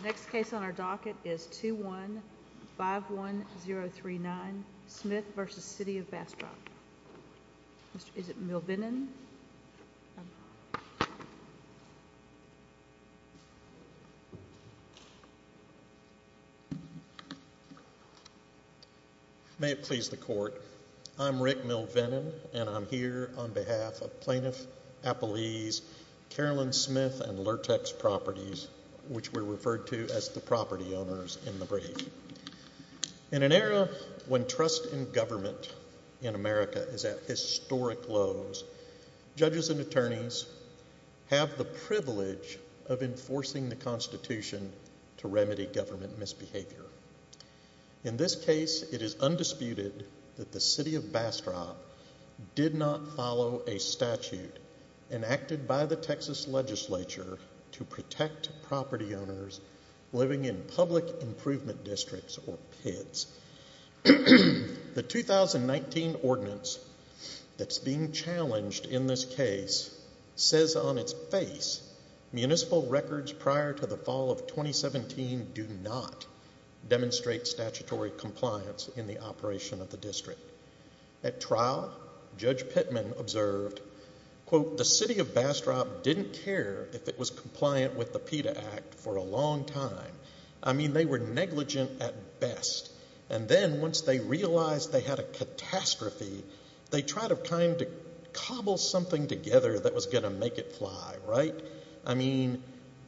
The next case on our docket is 2151039 Smith v. City of Bastrop Is it Milvenin? May it please the court, I'm Rick Milvenin and I'm here on behalf of Plaintiff Appellee's Carolyn Smith and Lurtex Properties, which were referred to as the property owners in the brief. In an era when trust in government in America is at historic lows, judges and attorneys have the privilege of enforcing the Constitution to remedy government misbehavior. In this case, it is undisputed that the City of Bastrop did not follow a statute enacted by the Texas Legislature to protect property owners living in public improvement districts or PIDs. The 2019 ordinance that's being challenged in this case says on its face municipal records prior to the fall of 2017 do not demonstrate statutory compliance in the operation of the district. At trial, Judge Pittman observed, quote, the City of Bastrop didn't care if it was compliant with the PIDA Act for a long time. I mean, they were negligent at best. And then once they realized they had a catastrophe, they tried of kind to cobble something together that was going to make it fly, right? I mean,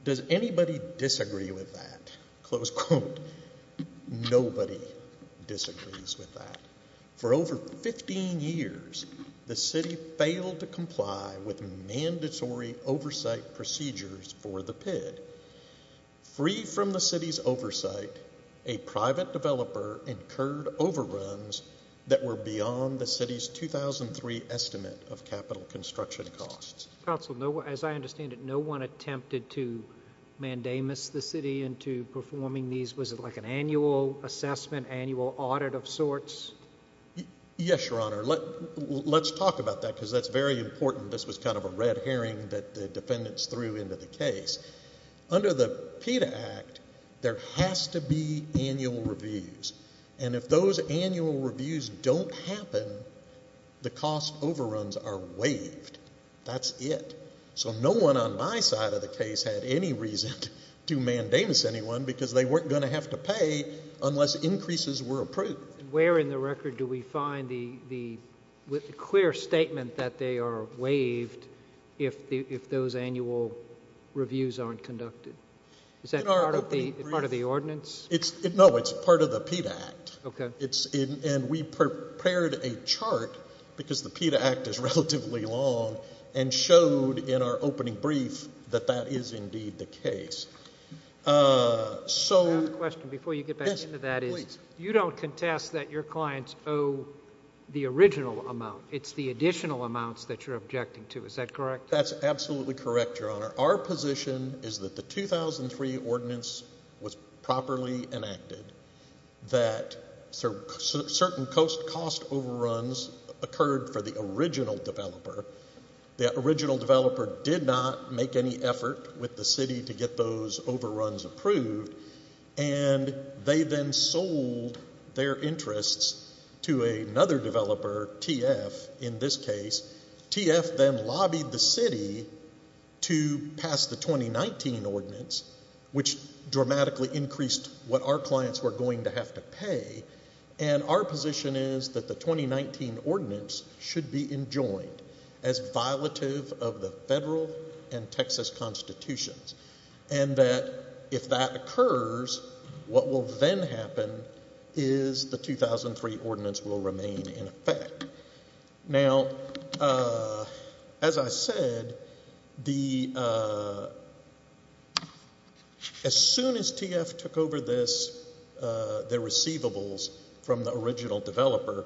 does anybody disagree with that? Close quote. Nobody disagrees with that. For over 15 years, the city failed to comply with mandatory oversight procedures for the PID. Free from the city's oversight, a private developer incurred overruns that were beyond the city's 2003 estimate of capital construction costs. Counsel, as I understand it, no one attempted to mandamus the city into performing these? Was it like an annual assessment, annual audit of sorts? Yes, Your Honor. Let's talk about that because that's very important. This was kind of a red herring that the defendants threw into the case. Under the PIDA Act, there has to be annual reviews. And if those annual reviews don't happen, the cost overruns are waived. That's it. So no one on my side of the case had any reason to mandamus anyone because they weren't going to have to pay unless increases were approved. Where in the record do we find the clear statement that they are waived if those annual reviews aren't conducted? Is that part of the ordinance? No, it's part of the PIDA Act. Okay. And we prepared a chart because the PIDA Act is relatively long and showed in our opening brief that that is indeed the case. I have a question before you get back into that. Yes, please. You don't contest that your clients owe the original amount. It's the additional amounts that you're objecting to. Is that correct? That's absolutely correct, Your Honor. Our position is that the 2003 ordinance was properly enacted, that certain cost overruns occurred for the original developer. The original developer did not make any effort with the city to get those overruns approved, and they then sold their interests to another developer, TF, in this case. TF then lobbied the city to pass the 2019 ordinance, which dramatically increased what our clients were going to have to pay. And our position is that the 2019 ordinance should be enjoined as violative of the federal and Texas constitutions, and that if that occurs, what will then happen is the 2003 ordinance will remain in effect. Now, as I said, as soon as TF took over this, their receivables from the original developer,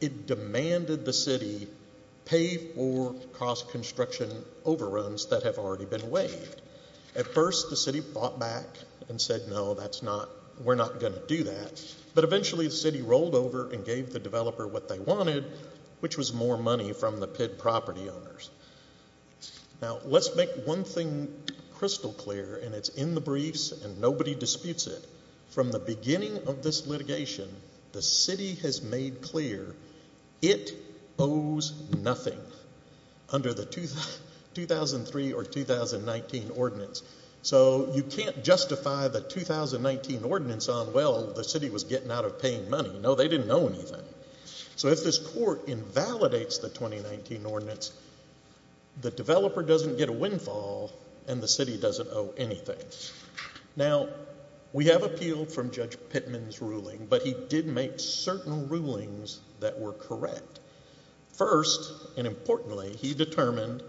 it demanded the city pay for cost construction overruns that have already been waived. At first the city fought back and said, no, we're not going to do that. But eventually the city rolled over and gave the developer what they wanted, which was more money from the PID property owners. Now, let's make one thing crystal clear, and it's in the briefs and nobody disputes it. From the beginning of this litigation, the city has made clear it owes nothing under the 2003 or 2019 ordinance. So you can't justify the 2019 ordinance on, well, the city was getting out of paying money. No, they didn't owe anything. So if this court invalidates the 2019 ordinance, the developer doesn't get a windfall and the city doesn't owe anything. Now, we have appealed from Judge Pittman's ruling, but he did make certain rulings that were correct. First, and importantly, he determined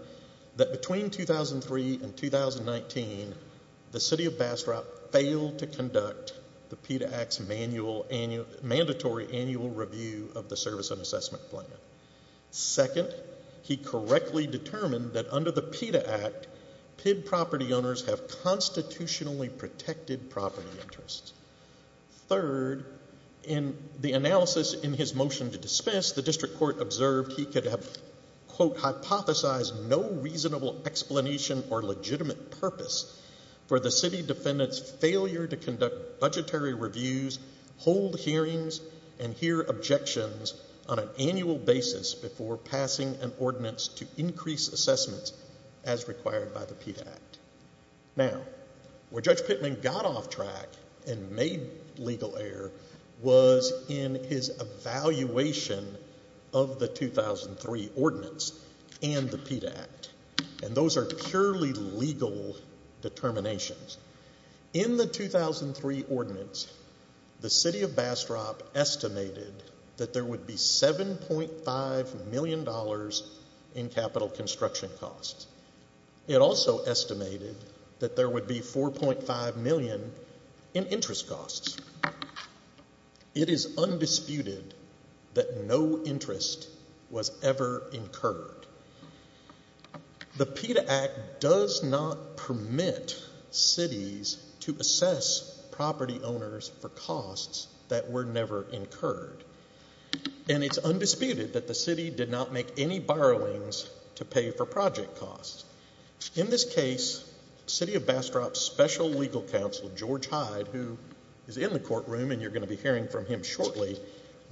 that between 2003 and 2019, the city of Bastrop failed to conduct the PID Act's mandatory annual review of the service and assessment plan. Second, he correctly determined that under the PID Act, PID property owners have constitutionally protected property interests. Third, in the analysis in his motion to dismiss, the district court observed he could have, quote, hypothesized no reasonable explanation or legitimate purpose for the city defendant's failure to conduct budgetary reviews, hold hearings, and hear objections on an annual basis before passing an ordinance to increase assessments as required by the PID Act. Now, where Judge Pittman got off track and made legal error was in his evaluation of the 2003 ordinance and the PID Act, and those are purely legal determinations. In the 2003 ordinance, the city of Bastrop estimated that there would be $7.5 million in capital construction costs. It also estimated that there would be $4.5 million in interest costs. It is undisputed that no interest was ever incurred. The PID Act does not permit cities to assess property owners for costs that were never incurred, and it's undisputed that the city did not make any borrowings to pay for project costs. In this case, the city of Bastrop's special legal counsel, George Hyde, who is in the courtroom and you're going to be hearing from him shortly,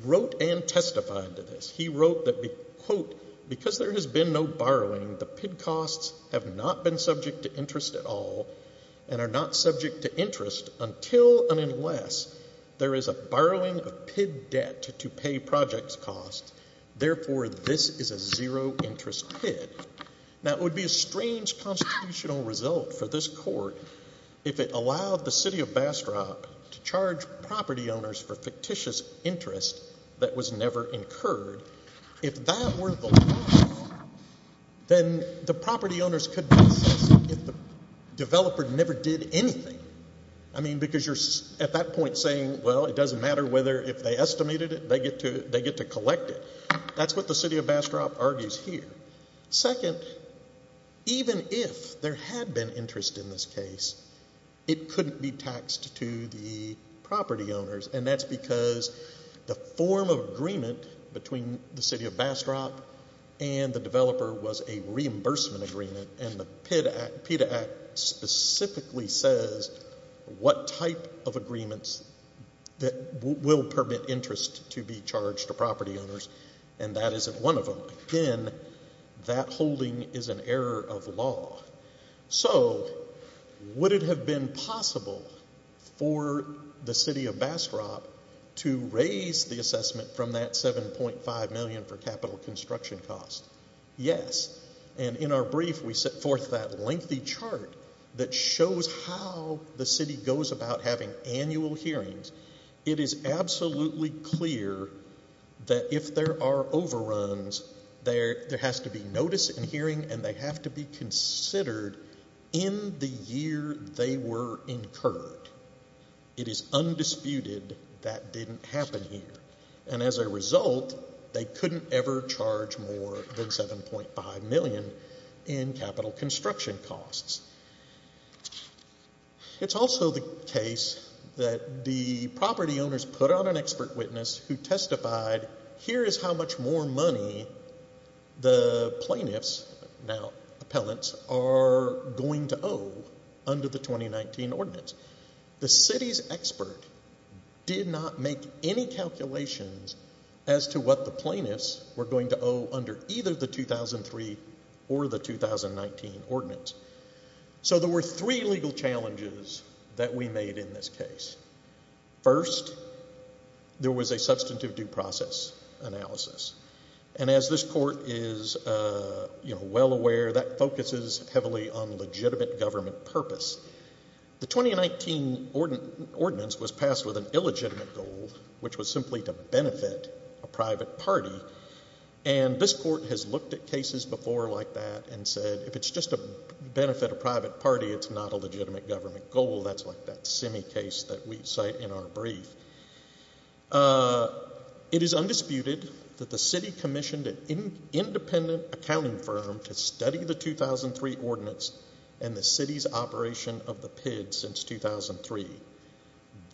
wrote and testified to this. He wrote that, quote, because there has been no borrowing, the PID costs have not been subject to interest at all and are not subject to interest until and unless there is a borrowing of PID debt to pay project costs. Therefore, this is a zero-interest PID. Now, it would be a strange constitutional result for this court if it allowed the city of Bastrop to charge property owners for fictitious interest that was never incurred. If that were the law, then the property owners could be assessed if the developer never did anything. I mean, because you're at that point saying, well, it doesn't matter whether if they estimated it, they get to collect it. That's what the city of Bastrop argues here. Second, even if there had been interest in this case, it couldn't be taxed to the property owners, and that's because the form of agreement between the city of Bastrop and the developer was a reimbursement agreement, and the PID Act specifically says what type of agreements will permit interest to be charged to property owners, and that isn't one of them. Again, that holding is an error of law. So would it have been possible for the city of Bastrop to raise the assessment from that $7.5 million for capital construction costs? Yes, and in our brief, we set forth that lengthy chart that shows how the city goes about having annual hearings. It is absolutely clear that if there are overruns, there has to be notice in hearing, and they have to be considered in the year they were incurred. It is undisputed that didn't happen here, and as a result, they couldn't ever charge more than $7.5 million in capital construction costs. It's also the case that the property owners put on an expert witness who testified, here is how much more money the plaintiffs, now appellants, are going to owe under the 2019 ordinance. The city's expert did not make any calculations as to what the plaintiffs were going to owe under either the 2003 or the 2019 ordinance. So there were three legal challenges that we made in this case. First, there was a substantive due process analysis, and as this court is well aware, that focuses heavily on legitimate government purpose. The 2019 ordinance was passed with an illegitimate goal, which was simply to benefit a private party, and this court has looked at cases before like that and said, if it's just to benefit a private party, it's not a legitimate government goal. That's like that semi-case that we cite in our brief. It is undisputed that the city commissioned an independent accounting firm to study the 2003 ordinance and the city's operation of the PID since 2003.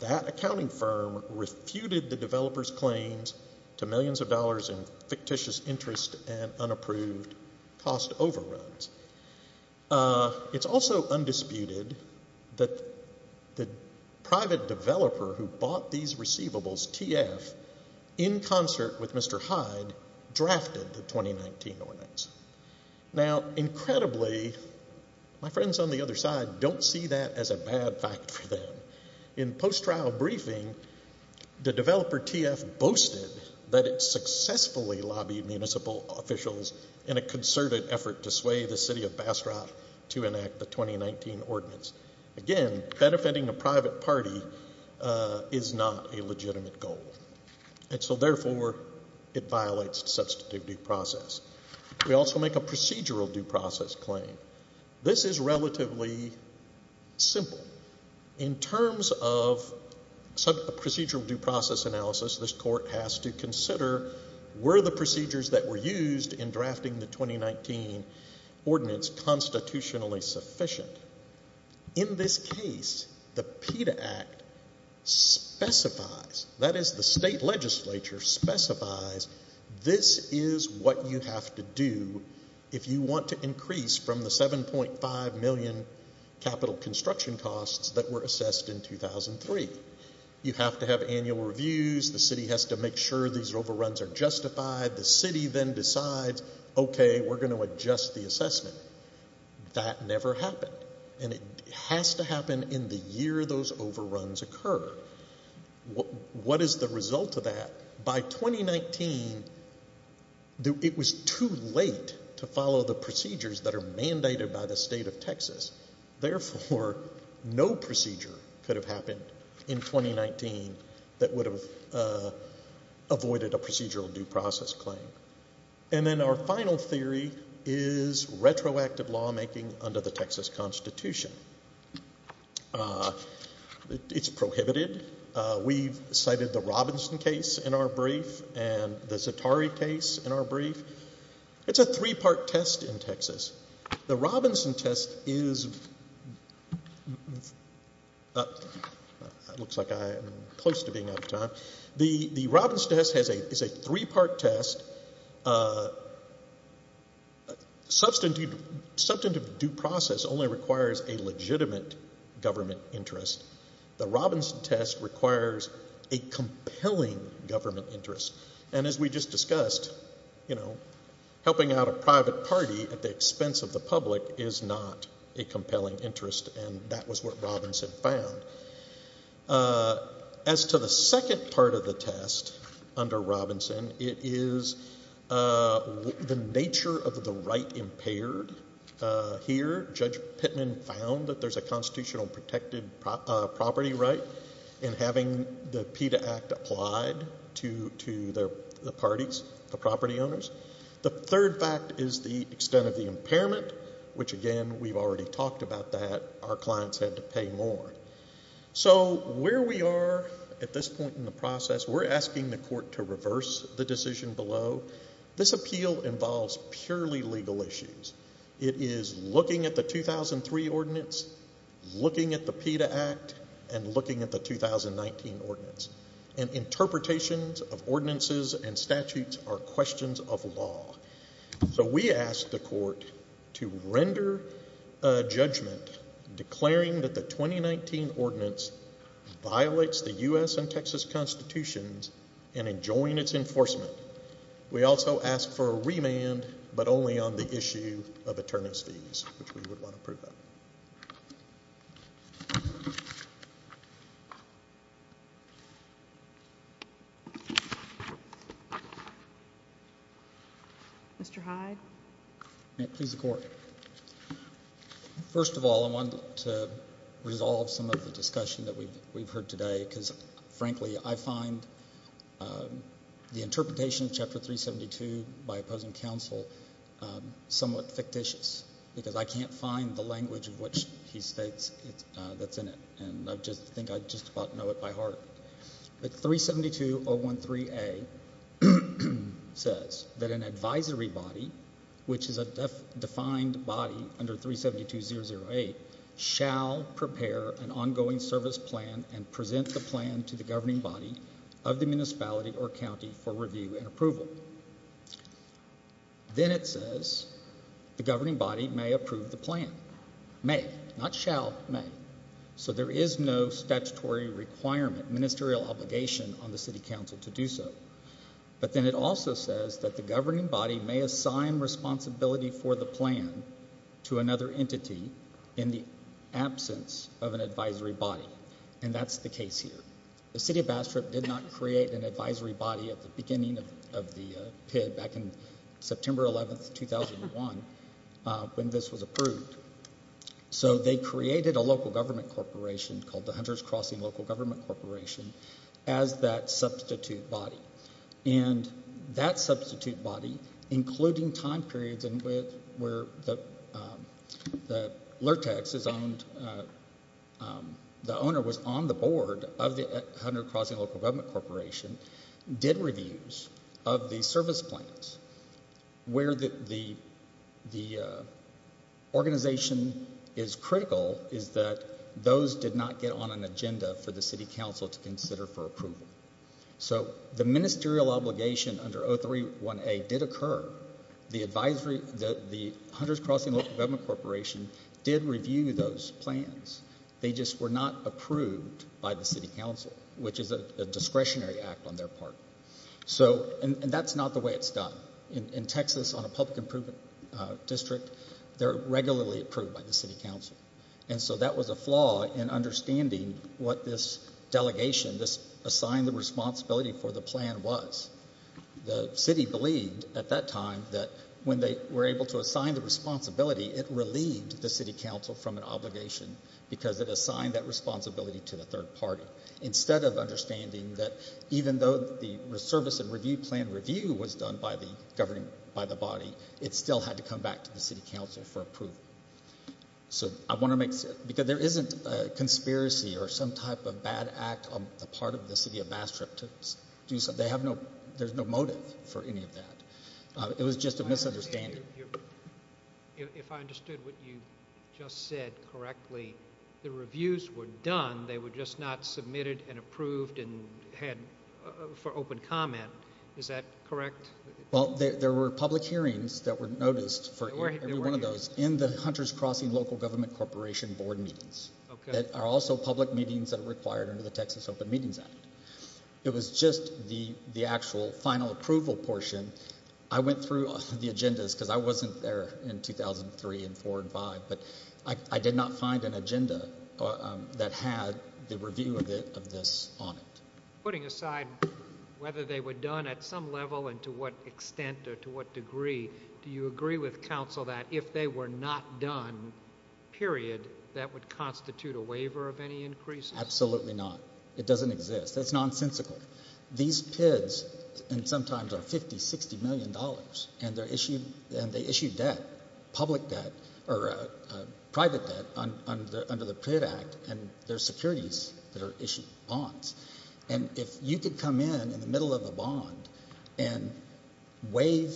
That accounting firm refuted the developer's claims to millions of dollars in fictitious interest and unapproved cost overruns. It's also undisputed that the private developer who bought these receivables, TF, in concert with Mr. Hyde, drafted the 2019 ordinance. Now, incredibly, my friends on the other side don't see that as a bad fact for them. In post-trial briefing, the developer TF boasted that it successfully lobbied municipal officials in a concerted effort to sway the city of Bastrop to enact the 2019 ordinance. Again, benefiting a private party is not a legitimate goal, and so therefore it violates the substantive due process. We also make a procedural due process claim. This is relatively simple. In terms of procedural due process analysis, this court has to consider were the procedures that were used in drafting the 2019 ordinance constitutionally sufficient. In this case, the PETA Act specifies, that is the state legislature specifies, this is what you have to do if you want to increase from the 7.5 million capital construction costs that were assessed in 2003. You have to have annual reviews. The city has to make sure these overruns are justified. The city then decides, okay, we're going to adjust the assessment. That never happened, and it has to happen in the year those overruns occur. What is the result of that? By 2019, it was too late to follow the procedures that are mandated by the state of Texas. Therefore, no procedure could have happened in 2019 that would have avoided a procedural due process claim. And then our final theory is retroactive lawmaking under the Texas Constitution. It's prohibited. We've cited the Robinson case in our brief and the Zatari case in our brief. It's a three-part test in Texas. The Robinson test is, looks like I'm close to being out of time. The Robinson test is a three-part test. Substantive due process only requires a legitimate government interest. The Robinson test requires a compelling government interest. And as we just discussed, you know, helping out a private party at the expense of the public is not a compelling interest, and that was what Robinson found. As to the second part of the test under Robinson, it is the nature of the right impaired. Here, Judge Pittman found that there's a constitutional protected property right in having the PETA Act applied to the parties, the property owners. The third fact is the extent of the impairment, which, again, we've already talked about that. Our clients had to pay more. So where we are at this point in the process, we're asking the court to reverse the decision below. This appeal involves purely legal issues. It is looking at the 2003 ordinance, looking at the PETA Act, and looking at the 2019 ordinance. And interpretations of ordinances and statutes are questions of law. So we ask the court to render a judgment declaring that the 2019 ordinance violates the U.S. and Texas constitutions and enjoin its enforcement, we also ask for a remand, but only on the issue of attorneys' fees, which we would want to approve of. Mr. Hyde. Please, the court. First of all, I wanted to resolve some of the discussion that we've heard today, because, frankly, I find the interpretation of Chapter 372 by opposing counsel somewhat fictitious, because I can't find the language of which he states that's in it, and I think I just about know it by heart. But 372.013a says that an advisory body, which is a defined body under 372.008, shall prepare an ongoing service plan and present the plan to the governing body of the municipality or county for review and approval. Then it says the governing body may approve the plan. May, not shall, may. So there is no statutory requirement, ministerial obligation, on the city council to do so. But then it also says that the governing body may assign responsibility for the plan to another entity in the absence of an advisory body, and that's the case here. The city of Bastrop did not create an advisory body at the beginning of the PID, back in September 11, 2001, when this was approved. So they created a local government corporation called the Hunters Crossing Local Government Corporation as that substitute body. And that substitute body, including time periods where the owner was on the board of the Hunters Crossing Local Government Corporation, did reviews of the service plans. Where the organization is critical is that those did not get on an agenda for the city council to consider for approval. So the ministerial obligation under 031A did occur. The Hunters Crossing Local Government Corporation did review those plans. They just were not approved by the city council, which is a discretionary act on their part. And that's not the way it's done. In Texas, on a public improvement district, they're regularly approved by the city council. And so that was a flaw in understanding what this delegation, this assigned responsibility for the plan was. The city believed at that time that when they were able to assign the responsibility, it relieved the city council from an obligation because it assigned that responsibility to the third party. Instead of understanding that even though the service and review plan review was done by the body, it still had to come back to the city council for approval. So I want to make – because there isn't a conspiracy or some type of bad act on the part of the city of Bastrop to do something. They have no – there's no motive for any of that. It was just a misunderstanding. If I understood what you just said correctly, the reviews were done. They were just not submitted and approved and had – for open comment. Is that correct? Well, there were public hearings that were noticed for every one of those in the Hunters Crossing Local Government Corporation board meetings. Okay. That are also public meetings that are required under the Texas Open Meetings Act. It was just the actual final approval portion. I went through the agendas because I wasn't there in 2003 and 4 and 5, but I did not find an agenda that had the review of this on it. Putting aside whether they were done at some level and to what extent or to what degree, do you agree with council that if they were not done, period, that would constitute a waiver of any increases? Absolutely not. It doesn't exist. That's nonsensical. These PIDs sometimes are $50 million, $60 million, and they issue debt, public debt or private debt under the PID Act, and there are securities that are issued, bonds. If you could come in in the middle of a bond and waive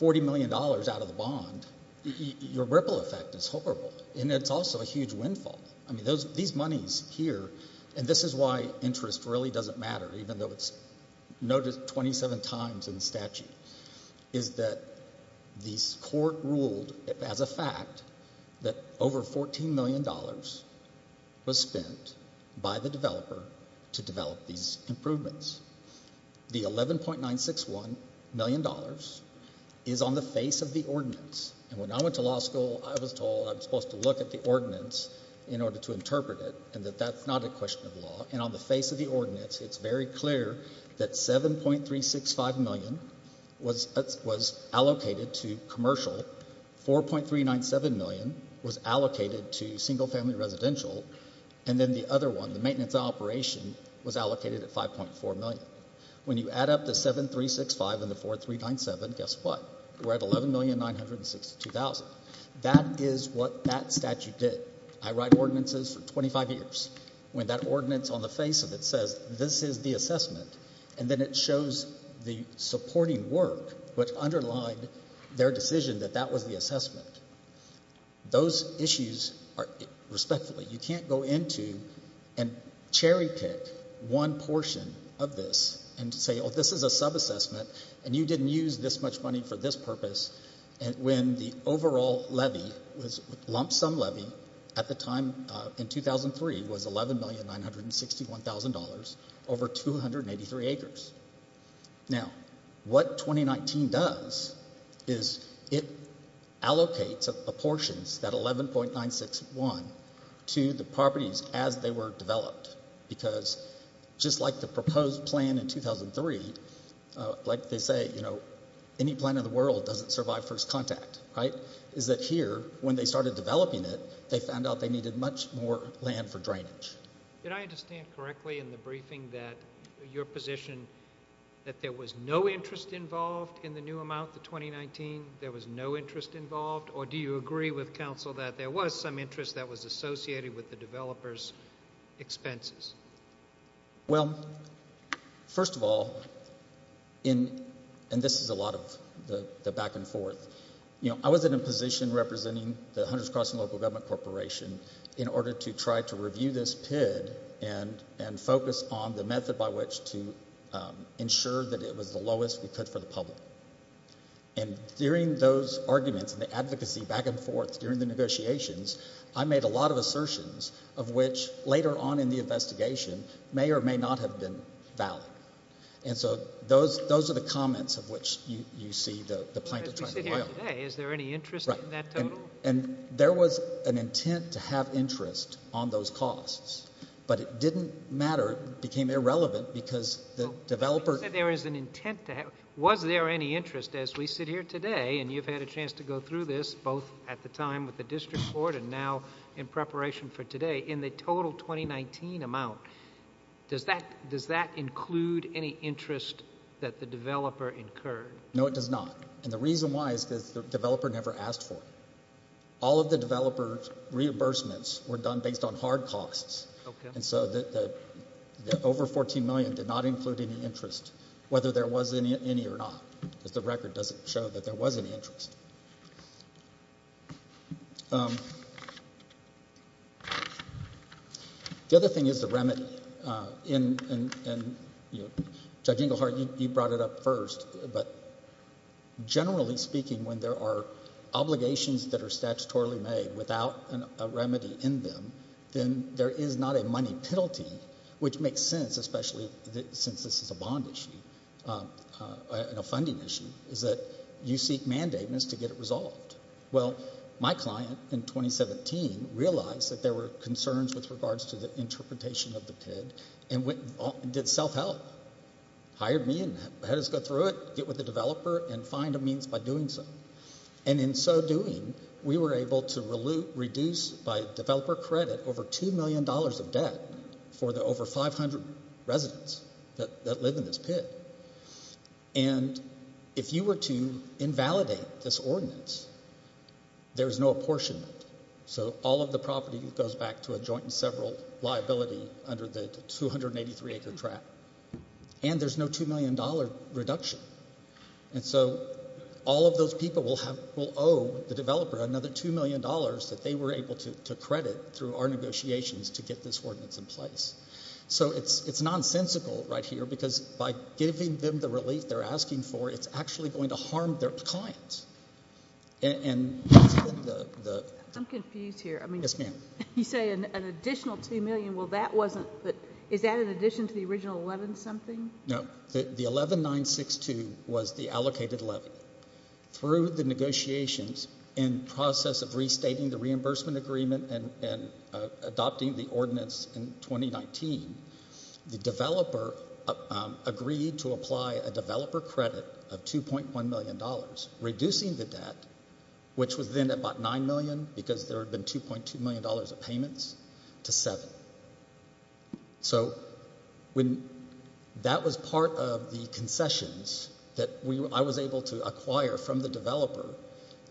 $40 million out of the bond, your ripple effect is horrible, and it's also a huge windfall. These monies here, and this is why interest really doesn't matter, even though it's noted 27 times in the statute, is that the court ruled as a fact that over $14 million was spent by the developer to develop these improvements. The $11.961 million is on the face of the ordinance, and when I went to law school I was told I was supposed to look at the ordinance in order to interpret it and that that's not a question of law, and on the face of the ordinance it's very clear that $7.365 million was allocated to commercial, $4.397 million was allocated to single-family residential, and then the other one, the maintenance operation, was allocated at $5.4 million. When you add up the $7.365 and the $4.397, guess what? We're at $11,962,000. That is what that statute did. I write ordinances for 25 years. When that ordinance on the face of it says this is the assessment and then it shows the supporting work, which underlined their decision that that was the assessment, those issues are respectfully, you can't go into and cherry-pick one portion of this and say, oh, this is a subassessment and you didn't use this much money for this purpose when the overall levy was lump sum levy at the time in 2003 was $11,961,000 over 283 acres. Now, what 2019 does is it allocates a portion, that $11,961,000, to the properties as they were developed because just like the proposed plan in 2003, like they say, any plan in the world doesn't survive first contact, right, is that here, when they started developing it, they found out they needed much more land for drainage. Did I understand correctly in the briefing that your position that there was no interest involved in the new amount, the 2019, there was no interest involved, or do you agree with counsel that there was some interest that was associated with the developers' expenses? Well, first of all, and this is a lot of the back and forth, I was in a position representing the Hunters Crossing Local Government Corporation in order to try to review this PID and focus on the method by which to ensure that it was the lowest we could for the public. And during those arguments and the advocacy back and forth during the negotiations, I made a lot of assertions of which later on in the investigation may or may not have been valid. And so those are the comments of which you see the plaintiff trying to blame. As we sit here today, is there any interest in that total? And there was an intent to have interest on those costs, but it didn't matter. It became irrelevant because the developer— You said there was an intent to have— was there any interest as we sit here today, and you've had a chance to go through this both at the time with the district court and now in preparation for today, in the total 2019 amount, does that include any interest that the developer incurred? No, it does not. And the reason why is because the developer never asked for it. All of the developer's reimbursements were done based on hard costs. And so the over $14 million did not include any interest, whether there was any or not, because the record doesn't show that there was any interest. The other thing is the remedy. And, you know, Judge Inglehart, you brought it up first, but generally speaking, when there are obligations that are statutorily made without a remedy in them, then there is not a money penalty, which makes sense, especially since this is a bond issue and a funding issue, is that you seek mandatements to get it resolved. Well, my client in 2017 realized that there were concerns with regards to the interpretation of the PID and did self-help, hired me and had us go through it, get with the developer and find a means by doing so. And in so doing, we were able to reduce, by developer credit, over $2 million of debt for the over 500 residents that live in this PID. And if you were to invalidate this ordinance, there is no apportionment. So all of the property goes back to a joint and several liability under the 283-acre tract. And there's no $2 million reduction. And so all of those people will owe the developer another $2 million that they were able to credit through our negotiations to get this ordinance in place. So it's nonsensical right here, because by giving them the relief they're asking for, it's actually going to harm their clients. I'm confused here. Yes, ma'am. You say an additional $2 million. Is that in addition to the original 11-something? No. The 11-962 was the allocated levy. Through the negotiations and process of restating the reimbursement agreement and adopting the ordinance in 2019, the developer agreed to apply a developer credit of $2.1 million, reducing the debt, which was then about $9 million, because there had been $2.2 million of payments, to $7. So that was part of the concessions that I was able to acquire from the developer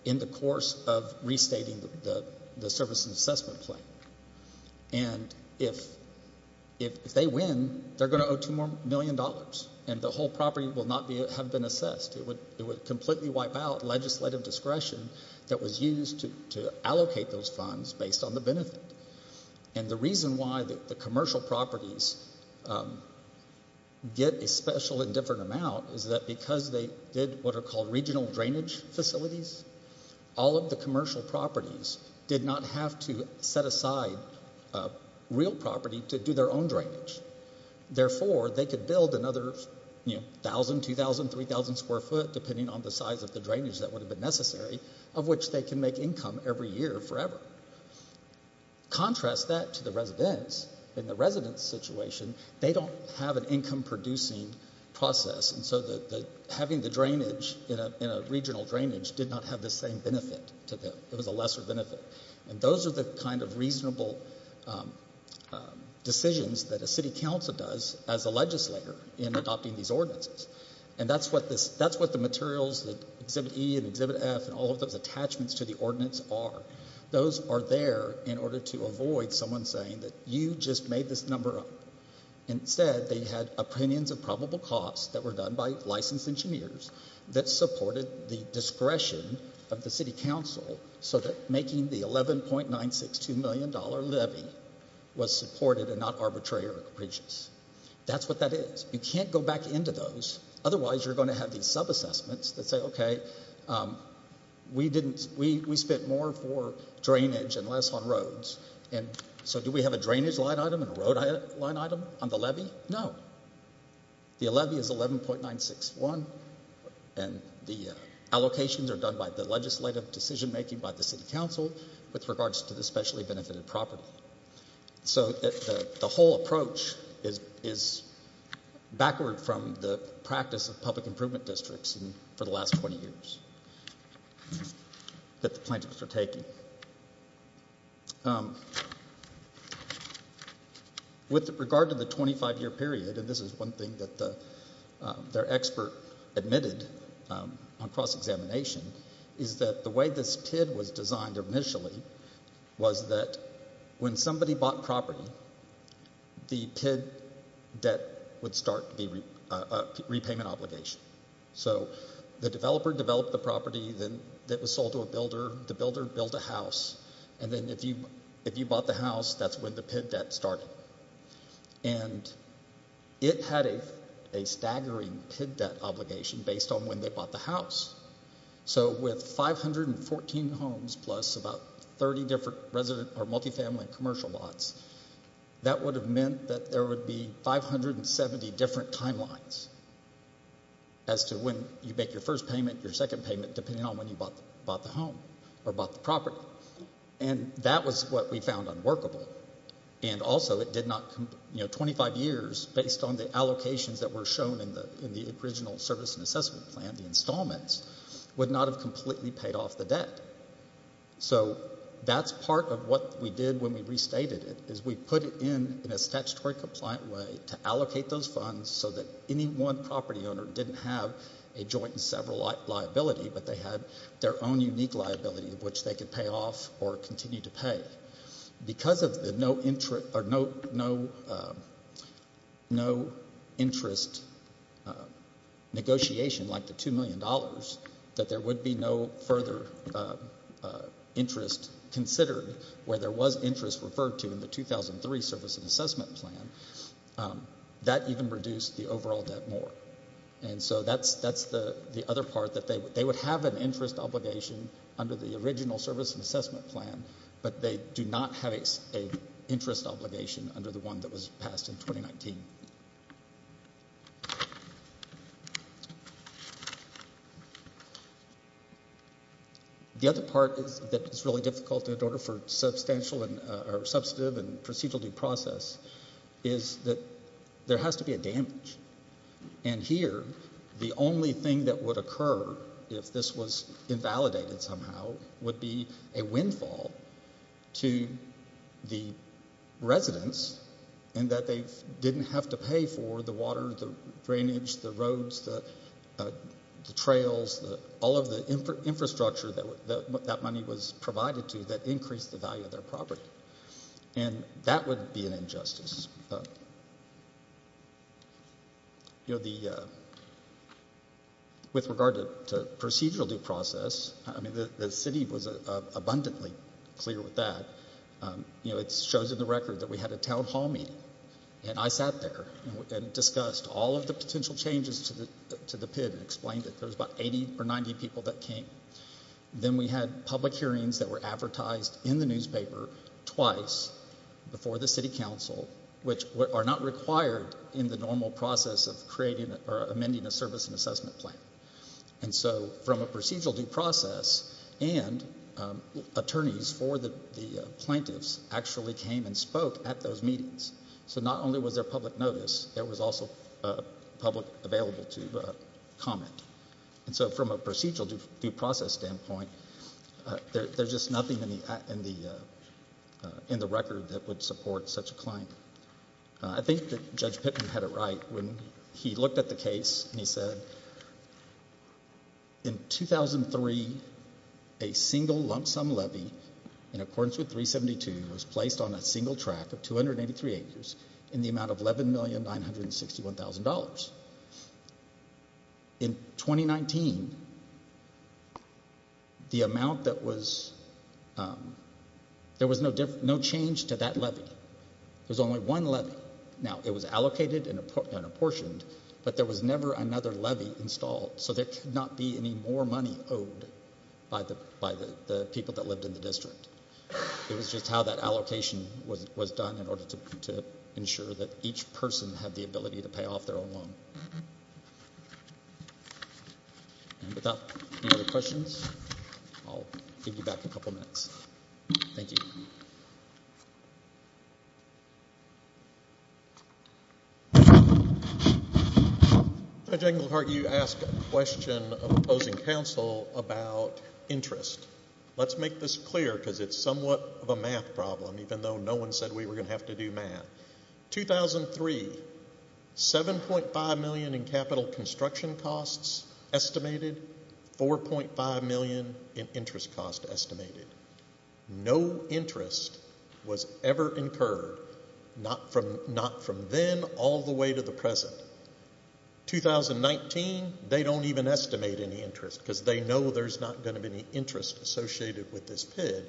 in the course of restating the service and assessment plan. And if they win, they're going to owe $2 million, and the whole property will not have been assessed. It would completely wipe out legislative discretion that was used to allocate those funds based on the benefit. And the reason why the commercial properties get a special and different amount is that because they did what are called regional drainage facilities, all of the commercial properties did not have to set aside real property to do their own drainage. Therefore, they could build another 1,000, 2,000, 3,000 square foot, depending on the size of the drainage that would have been necessary, of which they can make income every year forever. Contrast that to the residents. In the residents' situation, they don't have an income-producing process, and so having the drainage in a regional drainage did not have the same benefit to them. It was a lesser benefit. And those are the kind of reasonable decisions that a city council does as a legislator in adopting these ordinances. And that's what the materials that Exhibit E and Exhibit F and all of those attachments to the ordinance are. Those are there in order to avoid someone saying that you just made this number up. Instead, they had opinions of probable costs that were done by licensed engineers that supported the discretion of the city council so that making the $11.962 million levy was supported and not arbitrary or capricious. That's what that is. You can't go back into those, otherwise you're going to have these subassessments that say, okay, we spent more for drainage and less on roads, and so do we have a drainage line item and a road line item on the levy? No. The levy is $11.961, and the allocations are done by the legislative decision-making by the city council with regards to the specially-benefited property. So the whole approach is backward from the practice of public improvement districts for the last 20 years that the plaintiffs are taking. With regard to the 25-year period, and this is one thing that their expert admitted on cross-examination, is that the way this TID was designed initially was that when somebody bought property, the PID debt would start to be a repayment obligation. So the developer developed the property that was sold to a builder. The builder built a house, and then if you bought the house, that's when the PID debt started. And it had a staggering PID debt obligation based on when they bought the house. So with 514 homes plus about 30 different multi-family and commercial lots, that would have meant that there would be 570 different timelines as to when you make your first payment, your second payment, depending on when you bought the home or bought the property. And that was what we found unworkable. And also it did not... 25 years based on the allocations that were shown in the original service and assessment plan, the installments, would not have completely paid off the debt. So that's part of what we did when we restated it, is we put it in in a statutory compliant way to allocate those funds so that any one property owner didn't have a joint and several liability, but they had their own unique liability of which they could pay off or continue to pay. Because of the no interest negotiation, like the $2 million, that there would be no further interest considered where there was interest referred to in the 2003 service and assessment plan, that even reduced the overall debt more. And so that's the other part, that they would have an interest obligation under the original service and assessment plan, but they do not have an interest obligation under the one that was passed in 2019. The other part that is really difficult in order for substantive and procedural due process is that there has to be a damage. And here the only thing that would occur, if this was invalidated somehow, would be a windfall to the residents and that they didn't have to pay for the water, the drainage, the roads, the trails, all of the infrastructure that money was provided to that increased the value of their property. And that would be an injustice. With regard to procedural due process, the city was abundantly clear with that. It shows in the record that we had a town hall meeting and I sat there and discussed all of the potential changes to the PID and explained it. There was about 80 or 90 people that came. Then we had public hearings that were advertised in the newspaper twice before the city council, which are not required in the normal process of amending a service and assessment plan. And so from a procedural due process and attorneys for the plaintiffs actually came and spoke at those meetings. So not only was there public notice, there was also public available to comment. And so from a procedural due process standpoint, there's just nothing in the record that would support such a claim. I think that Judge Pittman had it right when he looked at the case and he said in 2003, a single lump sum levy in accordance with 372 was placed on a single track of 283 acres in the amount of $11,961,000. In 2019, the amount that was, there was no change to that levy. There was only one levy. Now it was allocated and apportioned, but there was never another levy installed. So there could not be any more money owed by the people that lived in the district. It was just how that allocation was done in order to ensure that each person had the ability to pay off their own loan. Without any other questions, I'll give you back a couple minutes. Thank you. Judge Englehart, you asked a question of opposing counsel about interest. Let's make this clear because it's somewhat of a math problem, even though no one said we were going to have to do math. 2003, $7.5 million in capital construction costs estimated, $4.5 million in interest costs estimated. No interest was ever incurred, not from then all the way to the present. 2019, they don't even estimate any interest because they know there's not going to be any interest associated with this PID.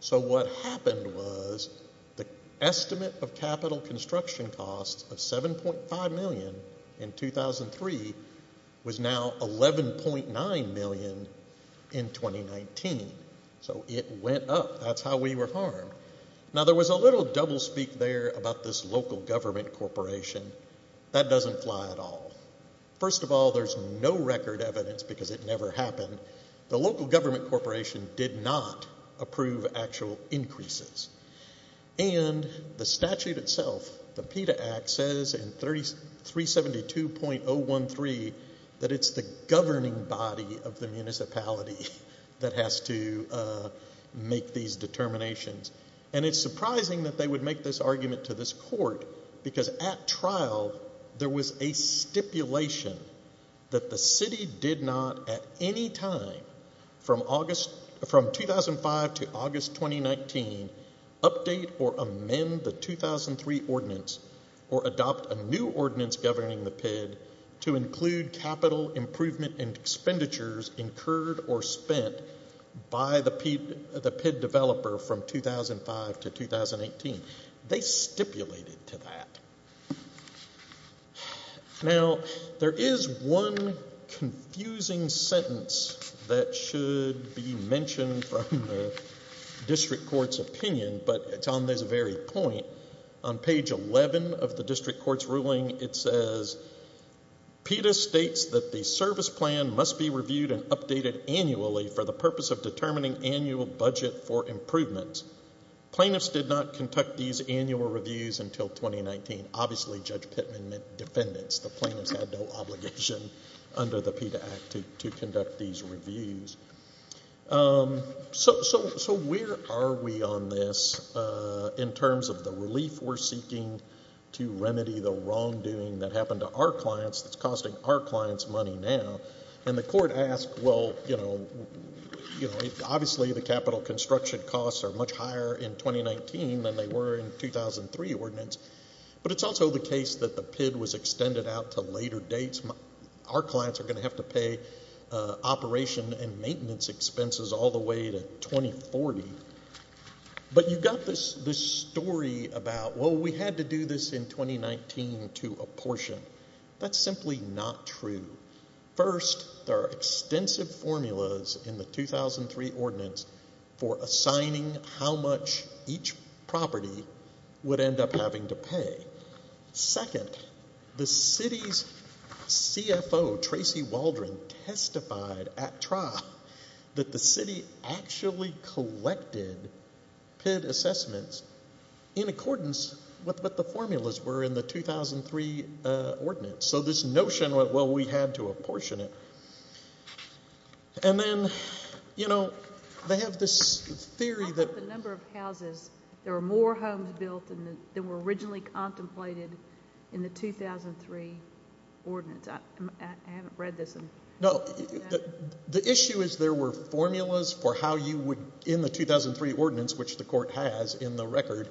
So what happened was the estimate of capital construction costs of $7.5 million in 2003 was now $11.9 million in 2019. So it went up. That's how we were harmed. Now, there was a little doublespeak there about this local government corporation. That doesn't fly at all. First of all, there's no record evidence because it never happened. The local government corporation did not approve actual increases. And the statute itself, the PETA Act, says in 372.013 that it's the governing body of the municipality that has to make these determinations. And it's surprising that they would make this argument to this court because at trial there was a stipulation that the city did not at any time from 2005 to August 2019 update or amend the 2003 ordinance or adopt a new ordinance governing the PID to include capital improvement expenditures incurred or spent by the PID developer from 2005 to 2018. They stipulated to that. Now, there is one confusing sentence that should be mentioned from the district court's opinion, but it's on this very point. On page 11 of the district court's ruling, it says, PETA states that the service plan must be reviewed and updated annually for the purpose of determining annual budget for improvements. Plaintiffs did not conduct these annual reviews until 2019. Obviously, Judge Pittman meant defendants. The plaintiffs had no obligation under the PETA Act to conduct these reviews. So where are we on this in terms of the relief we're seeking to remedy the wrongdoing that happened to our clients that's costing our clients money now? And the court asked, well, you know, obviously the capital construction costs are much higher in 2019 than they were in the 2003 ordinance, but it's also the case that the PID was extended out to later dates. Our clients are going to have to pay operation and maintenance expenses all the way to 2040. But you've got this story about, well, we had to do this in 2019 to apportion. That's simply not true. First, there are extensive formulas in the 2003 ordinance for assigning how much each property would end up having to pay. Second, the city's CFO, Tracy Waldron, testified at trial that the city actually collected PID assessments in accordance with what the formulas were in the 2003 ordinance. So this notion, well, we had to apportion it. And then, you know, they have this theory that... How about the number of houses? There were more homes built than were originally contemplated in the 2003 ordinance. I haven't read this. No. The issue is there were formulas for how you would, in the 2003 ordinance, which the court has in the record,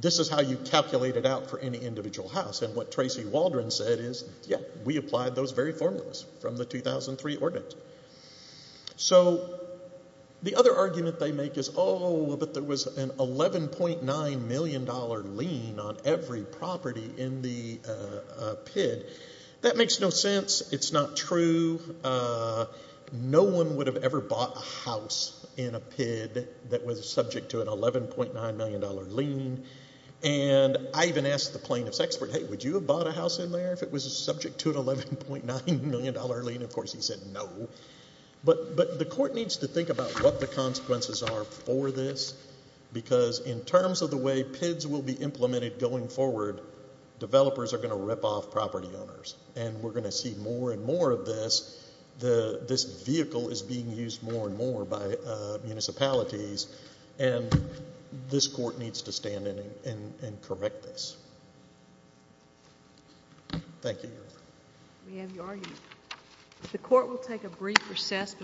this is how you calculate it out for any individual house. And what Tracy Waldron said is, yeah, we applied those very formulas from the 2003 ordinance. So the other argument they make is, oh, but there was an $11.9 million lien on every property in the PID. That makes no sense. It's not true. No one would have ever bought a house in a PID that was subject to an $11.9 million lien. And I even asked the plaintiff's expert, hey, would you have bought a house in there if it was subject to an $11.9 million lien? Of course he said no. But the court needs to think about what the consequences are for this because in terms of the way PIDs will be implemented going forward, developers are going to rip off property owners, and we're going to see more and more of this. This vehicle is being used more and more by municipalities, and this court needs to stand in and correct this. Thank you. We have your argument. The court will take a brief recess.